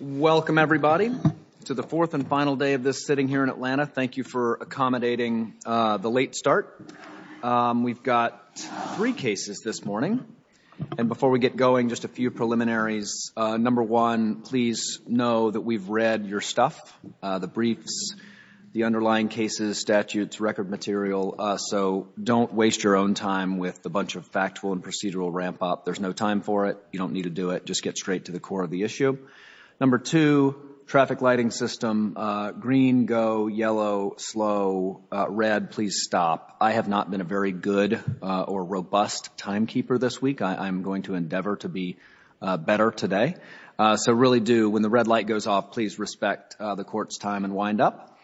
Welcome, everybody, to the fourth and final day of this sitting here in Atlanta. Thank you for accommodating the late start. We've got three cases this morning, and before we get going, just a few preliminaries. Number one, please know that we've read your stuff, the briefs, the underlying cases, statutes, record material, so don't waste your own time with a bunch of factual and procedural ramp-up. There's no time for it. You don't need to do it. Just get straight to the core of the issue. Number two, traffic lighting system, green, go, yellow, slow, red, please stop. I have not been a very good or robust timekeeper this week. I'm going to endeavor to be better today. So really do, when the red light goes off, please respect the court's time and wind up.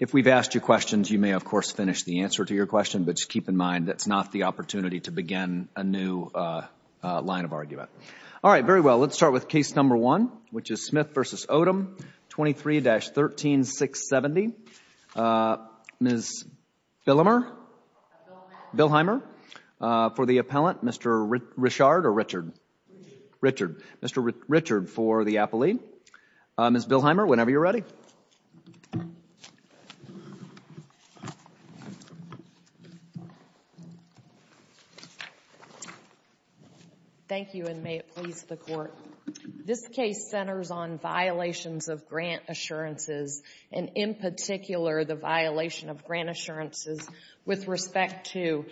If we've asked you questions, you may of course finish the answer to your question, but just keep in mind that's not the opportunity to begin a new line of argument. All right, very well, let's start with case number one, which is Smith v. Odom, 23-13670. Ms. Billheimer, for the appellant. Mr. Richard, for the appellee. Ms. Billheimer, whenever you're ready. Thank you, and may it please the Court. This case centers on violations of grant assurances, and in particular the violation of grant assurances with respect to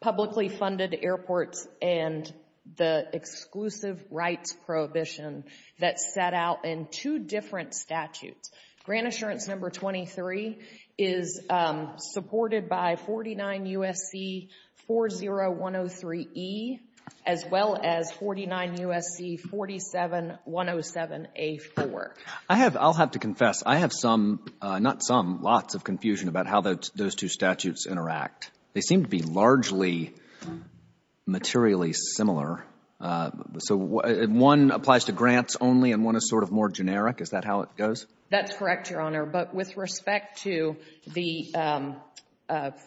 publicly funded airports and the exclusive rights prohibition that's set out in two different statutes. Grant Assurance Number 23 is supported by 49 U.S.C. 40103E as well as 49 U.S.C. 47107A4. I have, I'll have to confess, I have some, not some, lots of confusion about how those two statutes interact. They seem to be largely materially similar. So one applies to grants only and one is sort of more generic, is that how it goes? That's correct, Your Honor, but with respect to the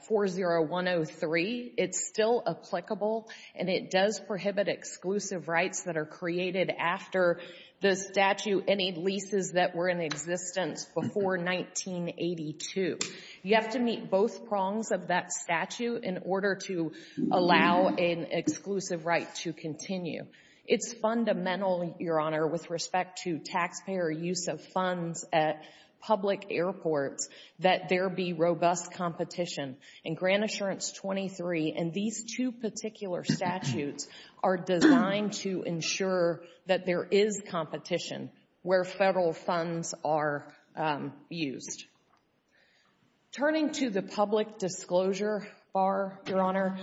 40103, it's still applicable and it does prohibit exclusive rights that are created after the statute, any leases that were in existence before 1982. You have to meet both prongs of that statute in order to allow an exclusive right to continue. It's fundamental, Your Honor, with respect to taxpayer use of funds at public airports that there be robust competition, and Grant Assurance 23 and these two particular statutes are designed to ensure that there is competition where federal funds are used. Turning to the public disclosure bar, Your Honor,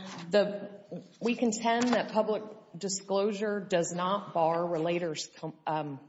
we contend that public disclosure does not bar relator's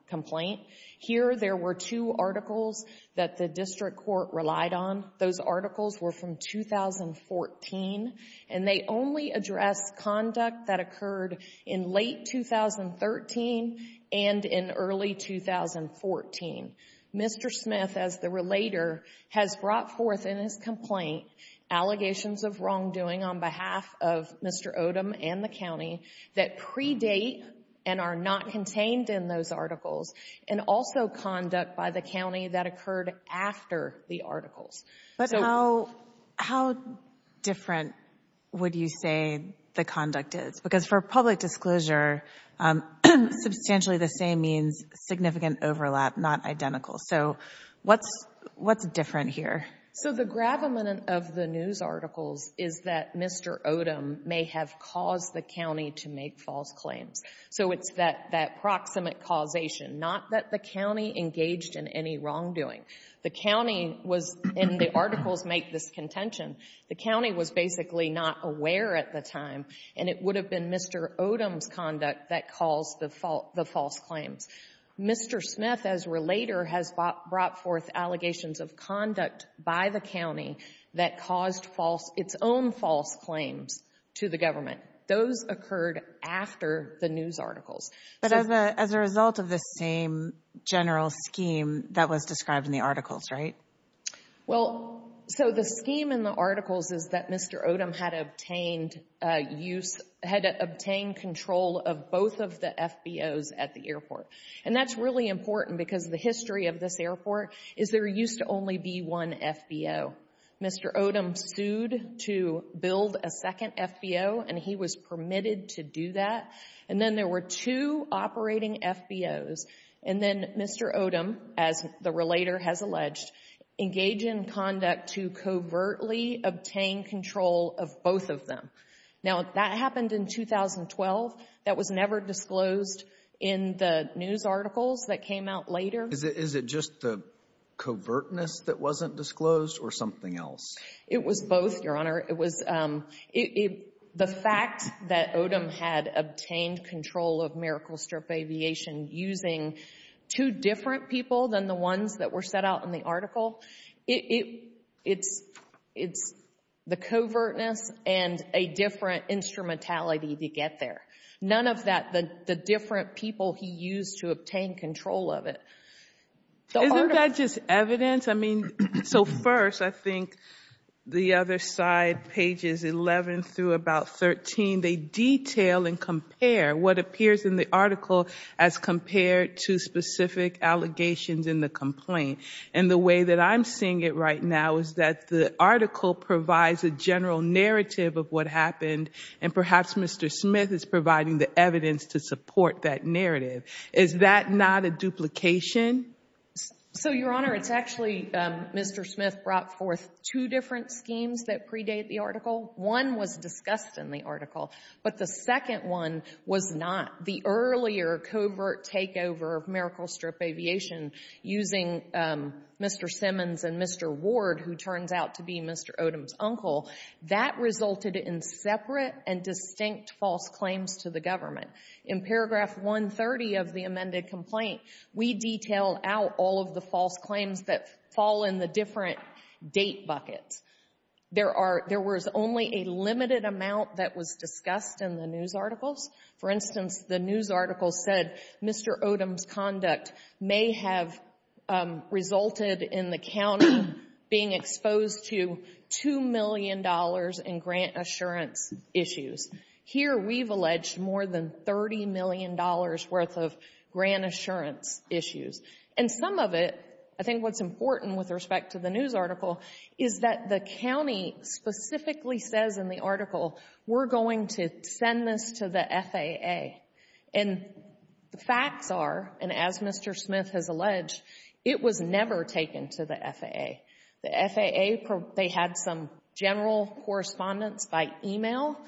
complaint. Here there were two articles that the district court relied on. Those articles were from 2014 and they only address conduct that occurred in late 2013 and in early 2014. Mr. Smith as the relator has brought forth in his complaint allegations of wrongdoing on behalf of Mr. Odom and the county that predate and are not contained in those articles and also conduct by the county that occurred after the articles. But how different would you say the conduct is? Because for public disclosure, substantially the same means significant overlap, not identical. So what's different here? So the gravamen of the news articles is that Mr. Odom may have caused the county to make false claims. So it's that proximate causation, not that the county engaged in any wrongdoing. The county was, and the articles make this contention, the county was basically not aware at the time, and it would have been Mr. Odom's conduct that caused the false claims. Mr. Smith as relator has brought forth allegations of conduct by the county that caused false its own false claims to the government. Those occurred after the news articles. But as a result of the same general scheme that was described in the articles, right? Well, so the scheme in the articles is that Mr. Odom had obtained use, had obtained control of both of the FBOs at the airport. And that's really important because the history of this to build a second FBO, and he was permitted to do that. And then there were two operating FBOs. And then Mr. Odom, as the relator has alleged, engaged in conduct to covertly obtain control of both of them. Now, that happened in 2012. That was never disclosed in the news articles that came out later. Is it just the covertness that wasn't disclosed or something else? It was both, Your Honor. It was the fact that Odom had obtained control of MiracleStrip Aviation using two different people than the ones that were set out in the article. It's the covertness and a different instrumentality to get there. None of that, the different people he used to obtain control of it. Isn't that just evidence? I mean, so first, I think the other side, pages 11 through about 13, they detail and compare what appears in the article as compared to specific allegations in the complaint. And the way that I'm seeing it right now is that the article provides a general narrative of what happened. And perhaps Mr. Smith is providing the evidence to support that narrative. Is that not a duplication? So Your Honor, it's actually Mr. Smith brought forth two different schemes that predate the article. One was discussed in the article. But the second one was not. The earlier covert takeover of MiracleStrip Aviation using Mr. Simmons and Mr. Ward, who turns out to be In paragraph 130 of the amended complaint, we detail out all of the false claims that fall in the different date buckets. There was only a limited amount that was discussed in the news articles. For instance, the news article said Mr. Odom's conduct may have resulted in the county being exposed to $2 million in grant assurance issues. Here, we've alleged more than $30 million worth of grant assurance issues. And some of it, I think what's important with respect to the news article is that the county specifically says in the article, we're going to send this to the FAA. And the facts are, and as Mr. Smith has alleged, it was never taken to the FAA. The FAA, they had some general correspondence by email,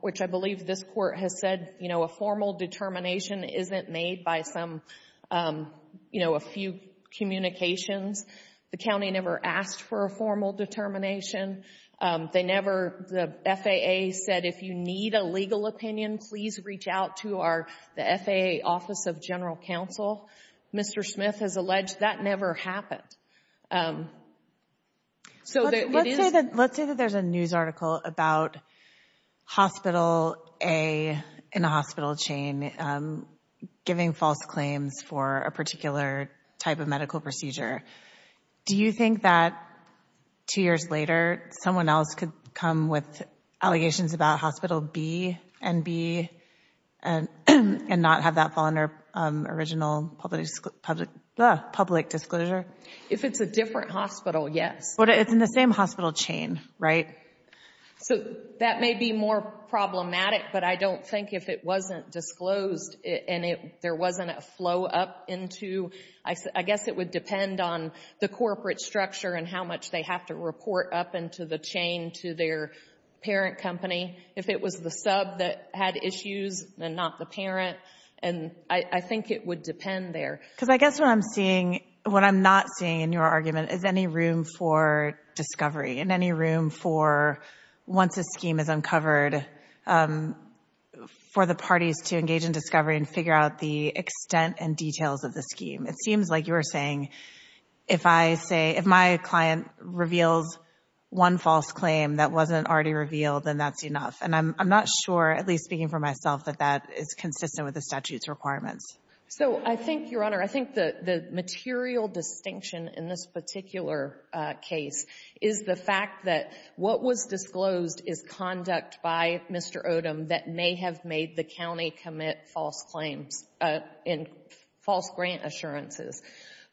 which I believe this court has said, you know, a formal determination isn't made by some, you know, a few communications. The county never asked for a formal determination. They never, the FAA said, if you need a legal opinion, please reach out to our, the FAA Office of General Counsel. Mr. Smith has alleged that never happened. Let's say that there's a news article about Hospital A in a hospital chain giving false claims for a particular type of medical procedure. Do you think that two years later, someone else could come with allegations about Hospital B and B and not have that fall under original public disclosure? If it's a different hospital, yes. But it's in the same hospital chain, right? So that may be more problematic, but I don't think if it wasn't disclosed and there wasn't a flow up into, I guess it would depend on the corporate structure and how much they have to report up into the chain to their parent company. If it was the sub that had issues and not the parent, and I think it would depend there. Because I guess what I'm seeing, what I'm not seeing in your argument, is any room for discovery and any room for, once a scheme is uncovered, for the parties to engage in discovery and figure out the extent and details of the scheme. It seems like you were saying, if I say, if my client reveals one false claim that wasn't already revealed, then that's enough. And I'm not sure, at least speaking for myself, that that is consistent with the statute's So I think, Your Honor, I think the material distinction in this particular case is the fact that what was disclosed is conduct by Mr. Odom that may have made the county commit false claims and false grant assurances.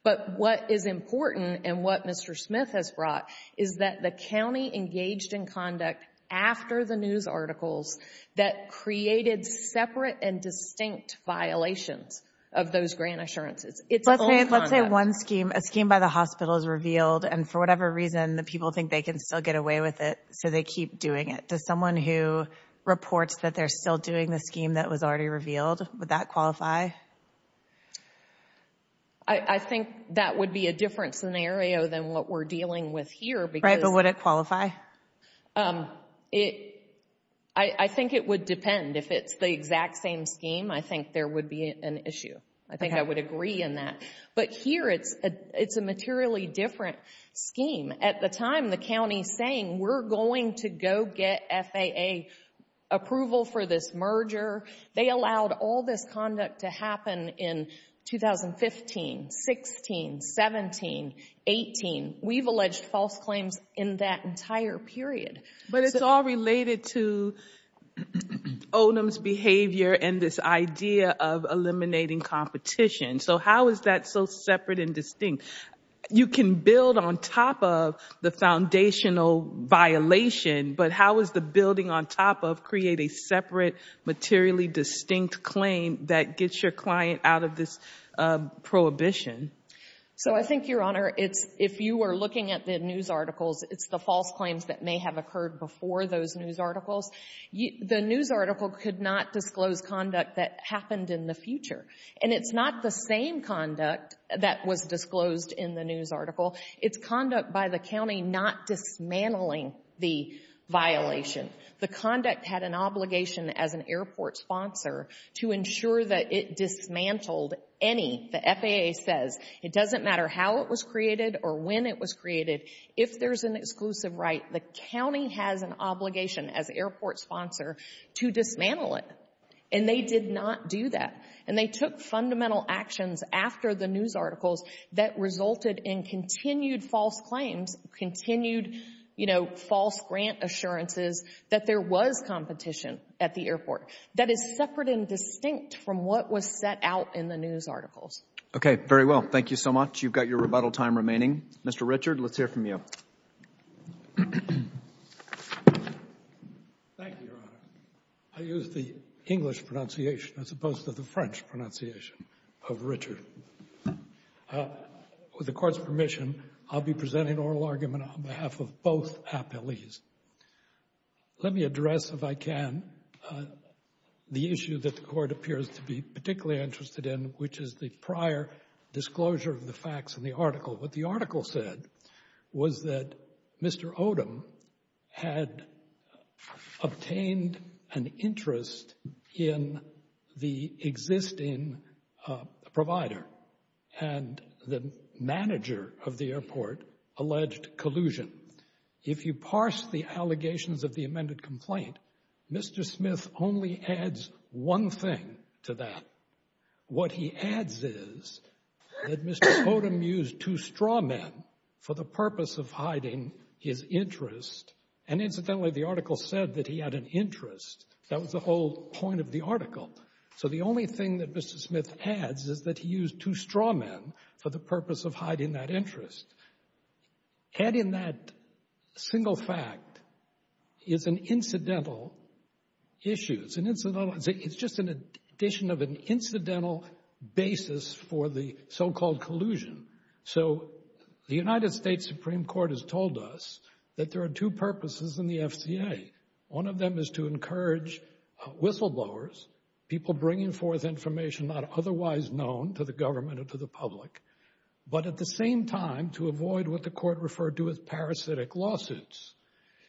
But what is important and what Mr. Smith has brought is that the county engaged in conduct after the news articles that created separate and distinct violations of those grant assurances. It's all conduct. Let's say one scheme, a scheme by the hospital is revealed, and for whatever reason the people think they can still get away with it, so they keep doing it. Does someone who reports that they're still doing the scheme that was already revealed, would that qualify? I think that would be a different scenario than what we're dealing with here because Right, but would it qualify? I think it would depend. If it's the exact same scheme, I think there would be an issue. I think I would agree in that. But here, it's a materially different scheme. At the time, the county is saying, we're going to go get FAA approval for this merger. They allowed all this conduct to happen in 2015, 16, 17, 18. We've alleged false claims in that entire period. But it's all related to Odom's behavior and this idea of eliminating competition. So how is that so separate and distinct? You can build on top of the foundational violation, but how is the building on top of creating a separate, materially distinct claim that gets your client out of this prohibition? So I think, Your Honor, if you were looking at the news articles, it's the false claims that may have occurred before those news articles. The news article could not disclose conduct that happened in the future. And it's not the same conduct that was disclosed in the news article. It's conduct by the county not dismantling the violation. The conduct had an obligation as an airport sponsor to ensure that it dismantled any, the FAA says, it doesn't matter how it was created or when it was created, if there's an exclusive right, the county has an obligation as airport sponsor to dismantle it. And they did not do that. And they took fundamental actions after the news articles that resulted in continued false claims, continued, you know, false grant assurances that there was competition at the airport. That is separate and distinct from what was set out in the news articles. Very well. Thank you so much. You've got your rebuttal time remaining. Mr. Richard, let's hear from you. Thank you, Your Honor. I use the English pronunciation as opposed to the French pronunciation of Richard. With the Court's permission, I'll be presenting oral argument on behalf of both the issue that the Court appears to be particularly interested in, which is the prior disclosure of the facts in the article. What the article said was that Mr. Odom had obtained an interest in the existing provider and the manager of the airport alleged collusion. If you parse the allegations of the amended complaint, Mr. Smith only adds one thing to that. What he adds is that Mr. Odom used two straw men for the purpose of hiding his interest. And incidentally, the article said that he had an interest. That was the whole point of the article. So the only thing that Mr. Smith adds is that he used two straw men for the purpose of hiding that interest. Adding that single fact is an incidental issue. It's just an addition of an incidental basis for the so-called collusion. So the United States Supreme Court has told us that there are two purposes in the FCA. One of them is to encourage whistleblowers, people bringing forth information not otherwise known to the government or to the public, but at the same time to avoid what the court referred to as parasitic lawsuits.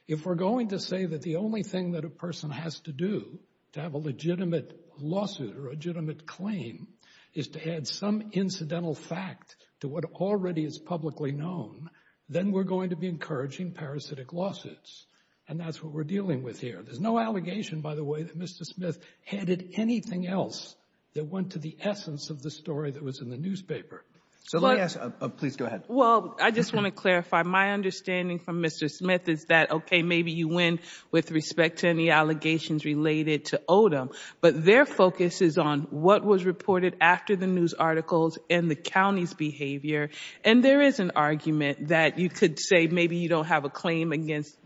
If we're going to say that the only thing that a person has to do to have a legitimate lawsuit or a legitimate claim is to add some incidental fact to what already is publicly known, then we're going to be encouraging parasitic lawsuits. And that's what we're dealing with here. There's no allegation, by the way, that Mr. Smith added anything else that went to the essence of the story that was in the newspaper. So let me ask, please go ahead. Well, I just want to clarify, my understanding from Mr. Smith is that, okay, maybe you win with respect to any allegations related to Odom, but their focus is on what was reported after the news articles and the county's behavior. And there is an argument that you could say maybe you don't have a claim against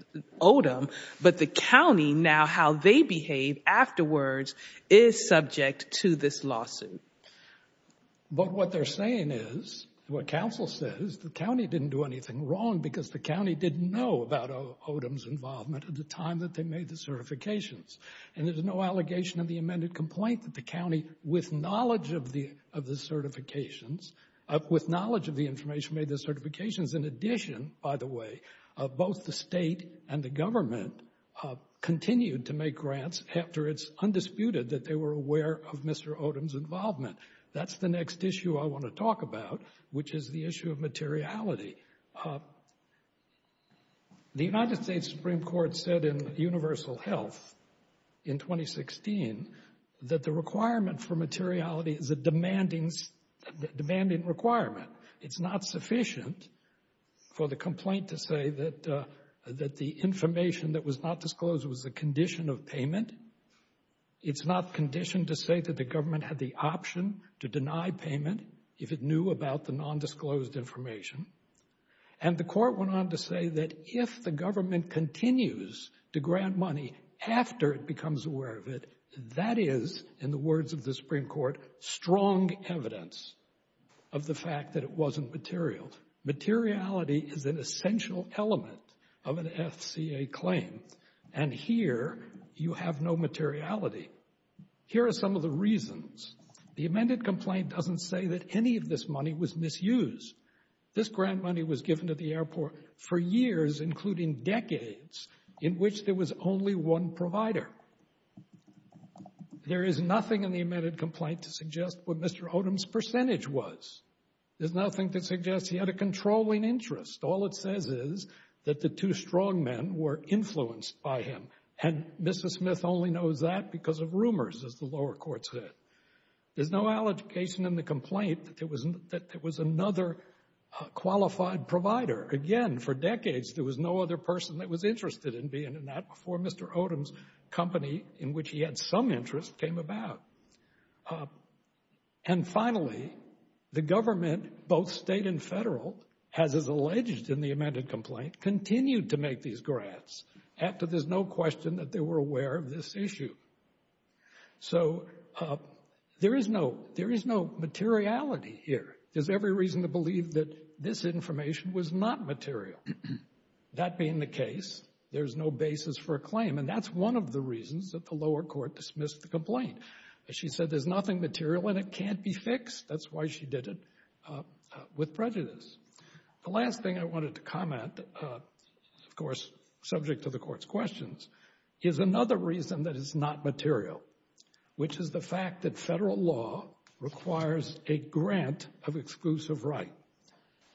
Odom, but the county, now how they behave afterwards, is subject to this lawsuit. But what they're saying is, what counsel says, the county didn't do anything wrong because the county didn't know about Odom's involvement at the time that they made the certifications. And there's no allegation in the amended complaint that the county, with knowledge of the certifications, with knowledge of the information made the certifications, in addition, by the way, of the state and the government, continued to make grants after it's undisputed that they were aware of Mr. Odom's involvement. That's the next issue I want to talk about, which is the issue of materiality. The United States Supreme Court said in Universal Health in 2016 that the requirement for materiality is a demanding requirement. It's not sufficient for the complaint to say that the information that was not disclosed was a condition of payment. It's not conditioned to say that the government had the option to deny payment if it knew about the nondisclosed information. And the court went on to say that if the government continues to grant money after it becomes aware of it, that is, in the words of the Supreme Court, strong evidence of the fact that it wasn't material. Materiality is an essential element of an FCA claim. And here, you have no materiality. Here are some of the reasons. The amended complaint doesn't say that any of this money was misused. This grant money was given to the airport for years, including decades, in which there was only one provider. There is nothing in the amended complaint to suggest what Mr. Odom's percentage was. There's nothing to suggest he had a controlling interest. All it says is that the two strongmen were influenced by him. And Mrs. Smith only knows that because of rumors, as the lower court said. There's no allegation in the complaint that there was another qualified provider. Again, for decades, there was no other person that was interested in being in that before Mr. Odom's company, in which he had some interest, came about. And finally, the government, both state and federal, has, as alleged in the amended complaint, continued to make these grants after there's no question that they were aware of this issue. So there is no materiality here. There's every reason to believe that this information was not material. That being the case, there's no basis for a claim, and that's one of the reasons that the lower court dismissed the complaint. She said there's nothing material and it can't be fixed. That's why she did it with prejudice. The last thing I wanted to comment, of course subject to the Court's questions, is another reason that it's not material, which is the fact that federal law requires a grant of exclusive right.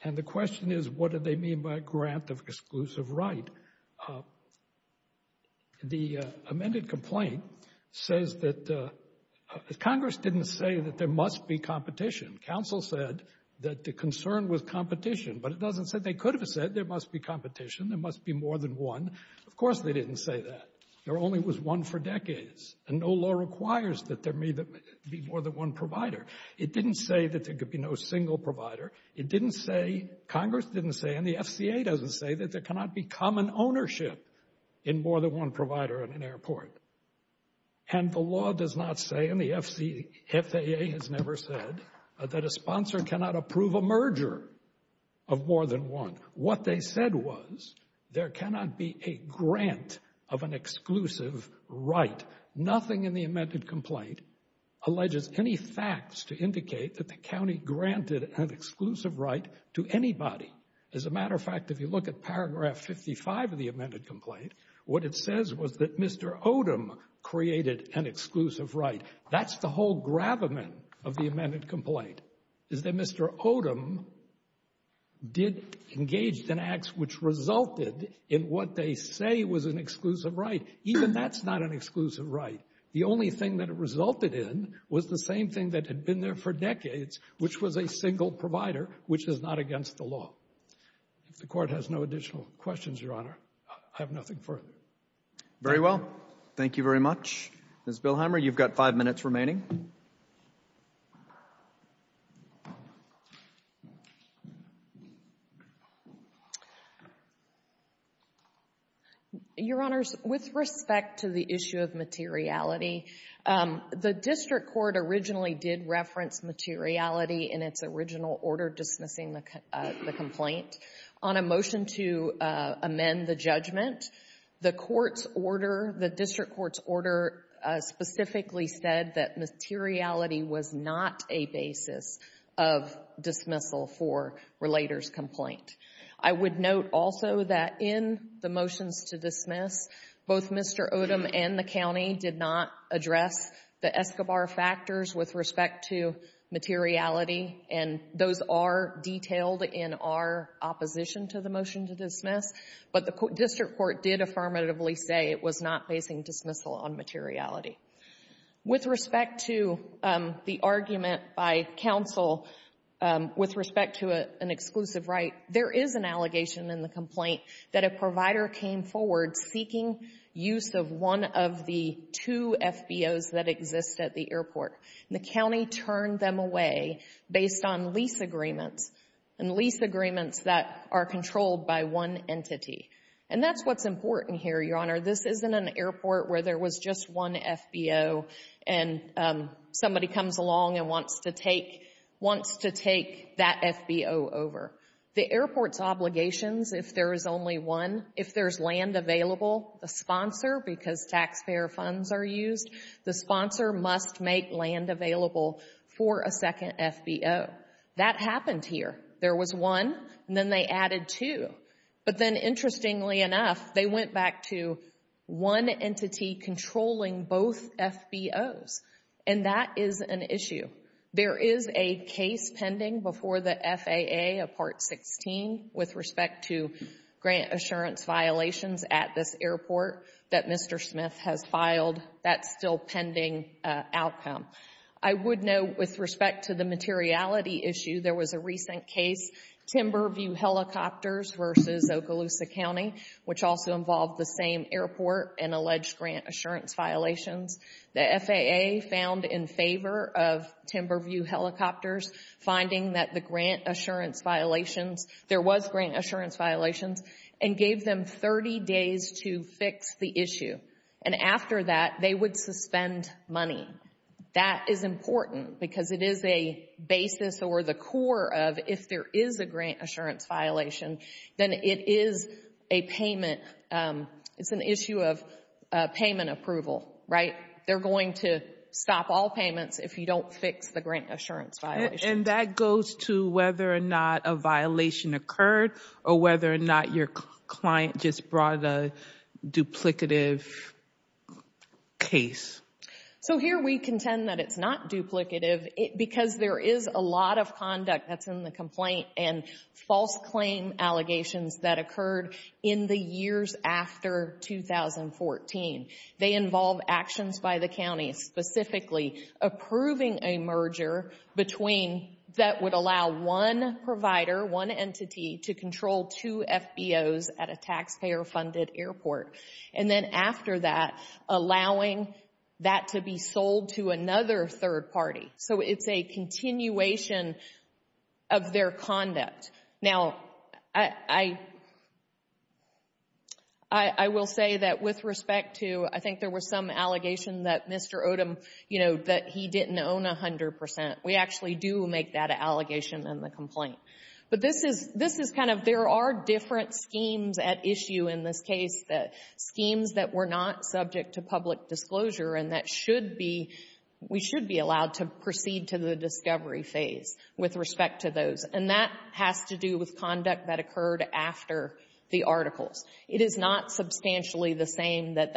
And the question is, what do they mean by a grant of exclusive right? The amended complaint says that Congress didn't say that there must be competition. Council said that the concern was competition, but it doesn't say they could have said there must be competition, there must be more than one. Of course they didn't say that. There only was one for decades, and no law requires that there may be more than one provider. It didn't say that there could be no single provider. It didn't say, Congress didn't say, and the FCA doesn't say, that there cannot be common ownership in more than one provider in an airport. And the law does not say, and the FAA has never said, that a sponsor cannot approve a merger of more than one. What they said was, there cannot be a grant of an exclusive right. Nothing in the amended complaint alleges any facts to indicate that the county granted an exclusive right to anybody. As a matter of fact, if you look at paragraph 55 of the amended complaint, what it says was that Mr. Odom created an exclusive right. That's the whole gravamen of the amended complaint. Is that Mr. Odom did engage in acts which resulted in what they say was an exclusive right. Even that's not an exclusive right. The only thing that it resulted in was the same thing that had been there for decades, which was a single provider, which is not against the law. If the Court has no additional questions, Your Honor, I have nothing further. Thank you. Very well. Thank you very much. Ms. Bilheimer, you've got five minutes remaining. Your Honors, with respect to the issue of materiality, the district court originally did reference materiality in its original order dismissing the complaint. On a motion to amend the judgment, the court's order, the district court's order specifically said that materiality was not a basis of dismissal for relator's complaint. I would note also that in the motions to dismiss, both Mr. Odom and the county did not address the Escobar factors with respect to materiality, and those are detailed in our opposition to the motion to dismiss. But the district court did affirmatively say it was not basing dismissal on materiality. With respect to the argument by counsel, with respect to an exclusive right, there is an allegation in the complaint that a provider came forward seeking use of one of the two FBOs that exist at the airport, and the county turned them away based on lease agreements, and lease agreements that are controlled by one entity. And that's what's important here, Your Honor. This isn't an airport where there was just one FBO and somebody comes along and wants to take, wants to take that FBO over. The airport's obligations, if there is only one, if there's land available, the sponsor, because taxpayer funds are used, the sponsor must make land available for a second FBO. That happened here. There was one, and then they added two. But then, interestingly enough, they went back to one entity controlling both FBOs, and that is an issue. There is a case pending before the FAA, a Part 16, with respect to grant assurance violations at this airport that Mr. Smith has filed. That's still pending outcome. I would note, with respect to the materiality issue, there was a recent case, Timberview Helicopters versus Okaloosa County, which also involved the same airport and alleged grant assurance violations. The FAA found in favor of Timberview Helicopters finding that the grant assurance violations, there was grant assurance violations, and gave them 30 days to fix the issue. And after that, they would suspend money. That is important, because it is a basis or the core of, if there is a grant assurance violation, then it is a payment, it's an issue of payment approval, right? They're going to stop all payments if you don't fix the grant assurance violation. And that goes to whether or not a violation occurred, or whether or not your client just brought a duplicative case. So here we contend that it's not duplicative, because there is a lot of conduct that's in the complaint and false claim allegations that occurred in the years after 2014. They involve actions by the county, specifically approving a merger that would allow one provider, one entity, to control two FBOs at a taxpayer-funded airport. And then after that, allowing that to be sold to another third party. So it's a continuation of their conduct. Now, I will say that with respect to, I think there was some allegation that Mr. Odom, you know, that he didn't own 100 percent. We actually do make that allegation in the complaint. But this is kind of, there are different schemes at issue in this case, schemes that were not subject to public disclosure, and that should be, we should be allowed to proceed to the discovery phase with respect to those. And that has to do with conduct that occurred after the articles. It is not substantially the same that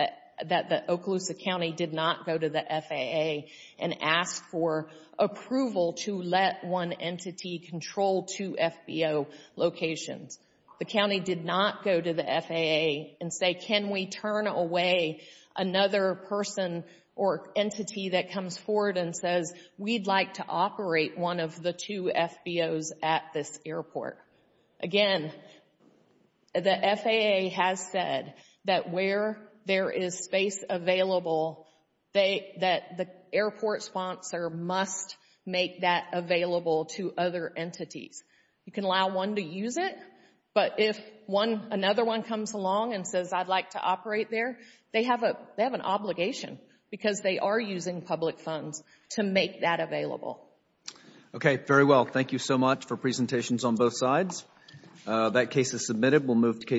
the Okaloosa County did not go to the FAA and ask for approval to let one entity control two FBO locations. The county did not go to the FAA and say, can we turn away another person or entity that comes forward and says, we'd like to operate one of the two FBOs at this airport. Again, the FAA has said that where there is space available, that the airport sponsor must make that available to other entities. You can allow one to use it, but if another one comes along and says, I'd like to operate there, they have an obligation because they are using public funds to make that available. Okay. Very well. Thank you so much for presentations on both sides. That case is submitted. We'll move to case.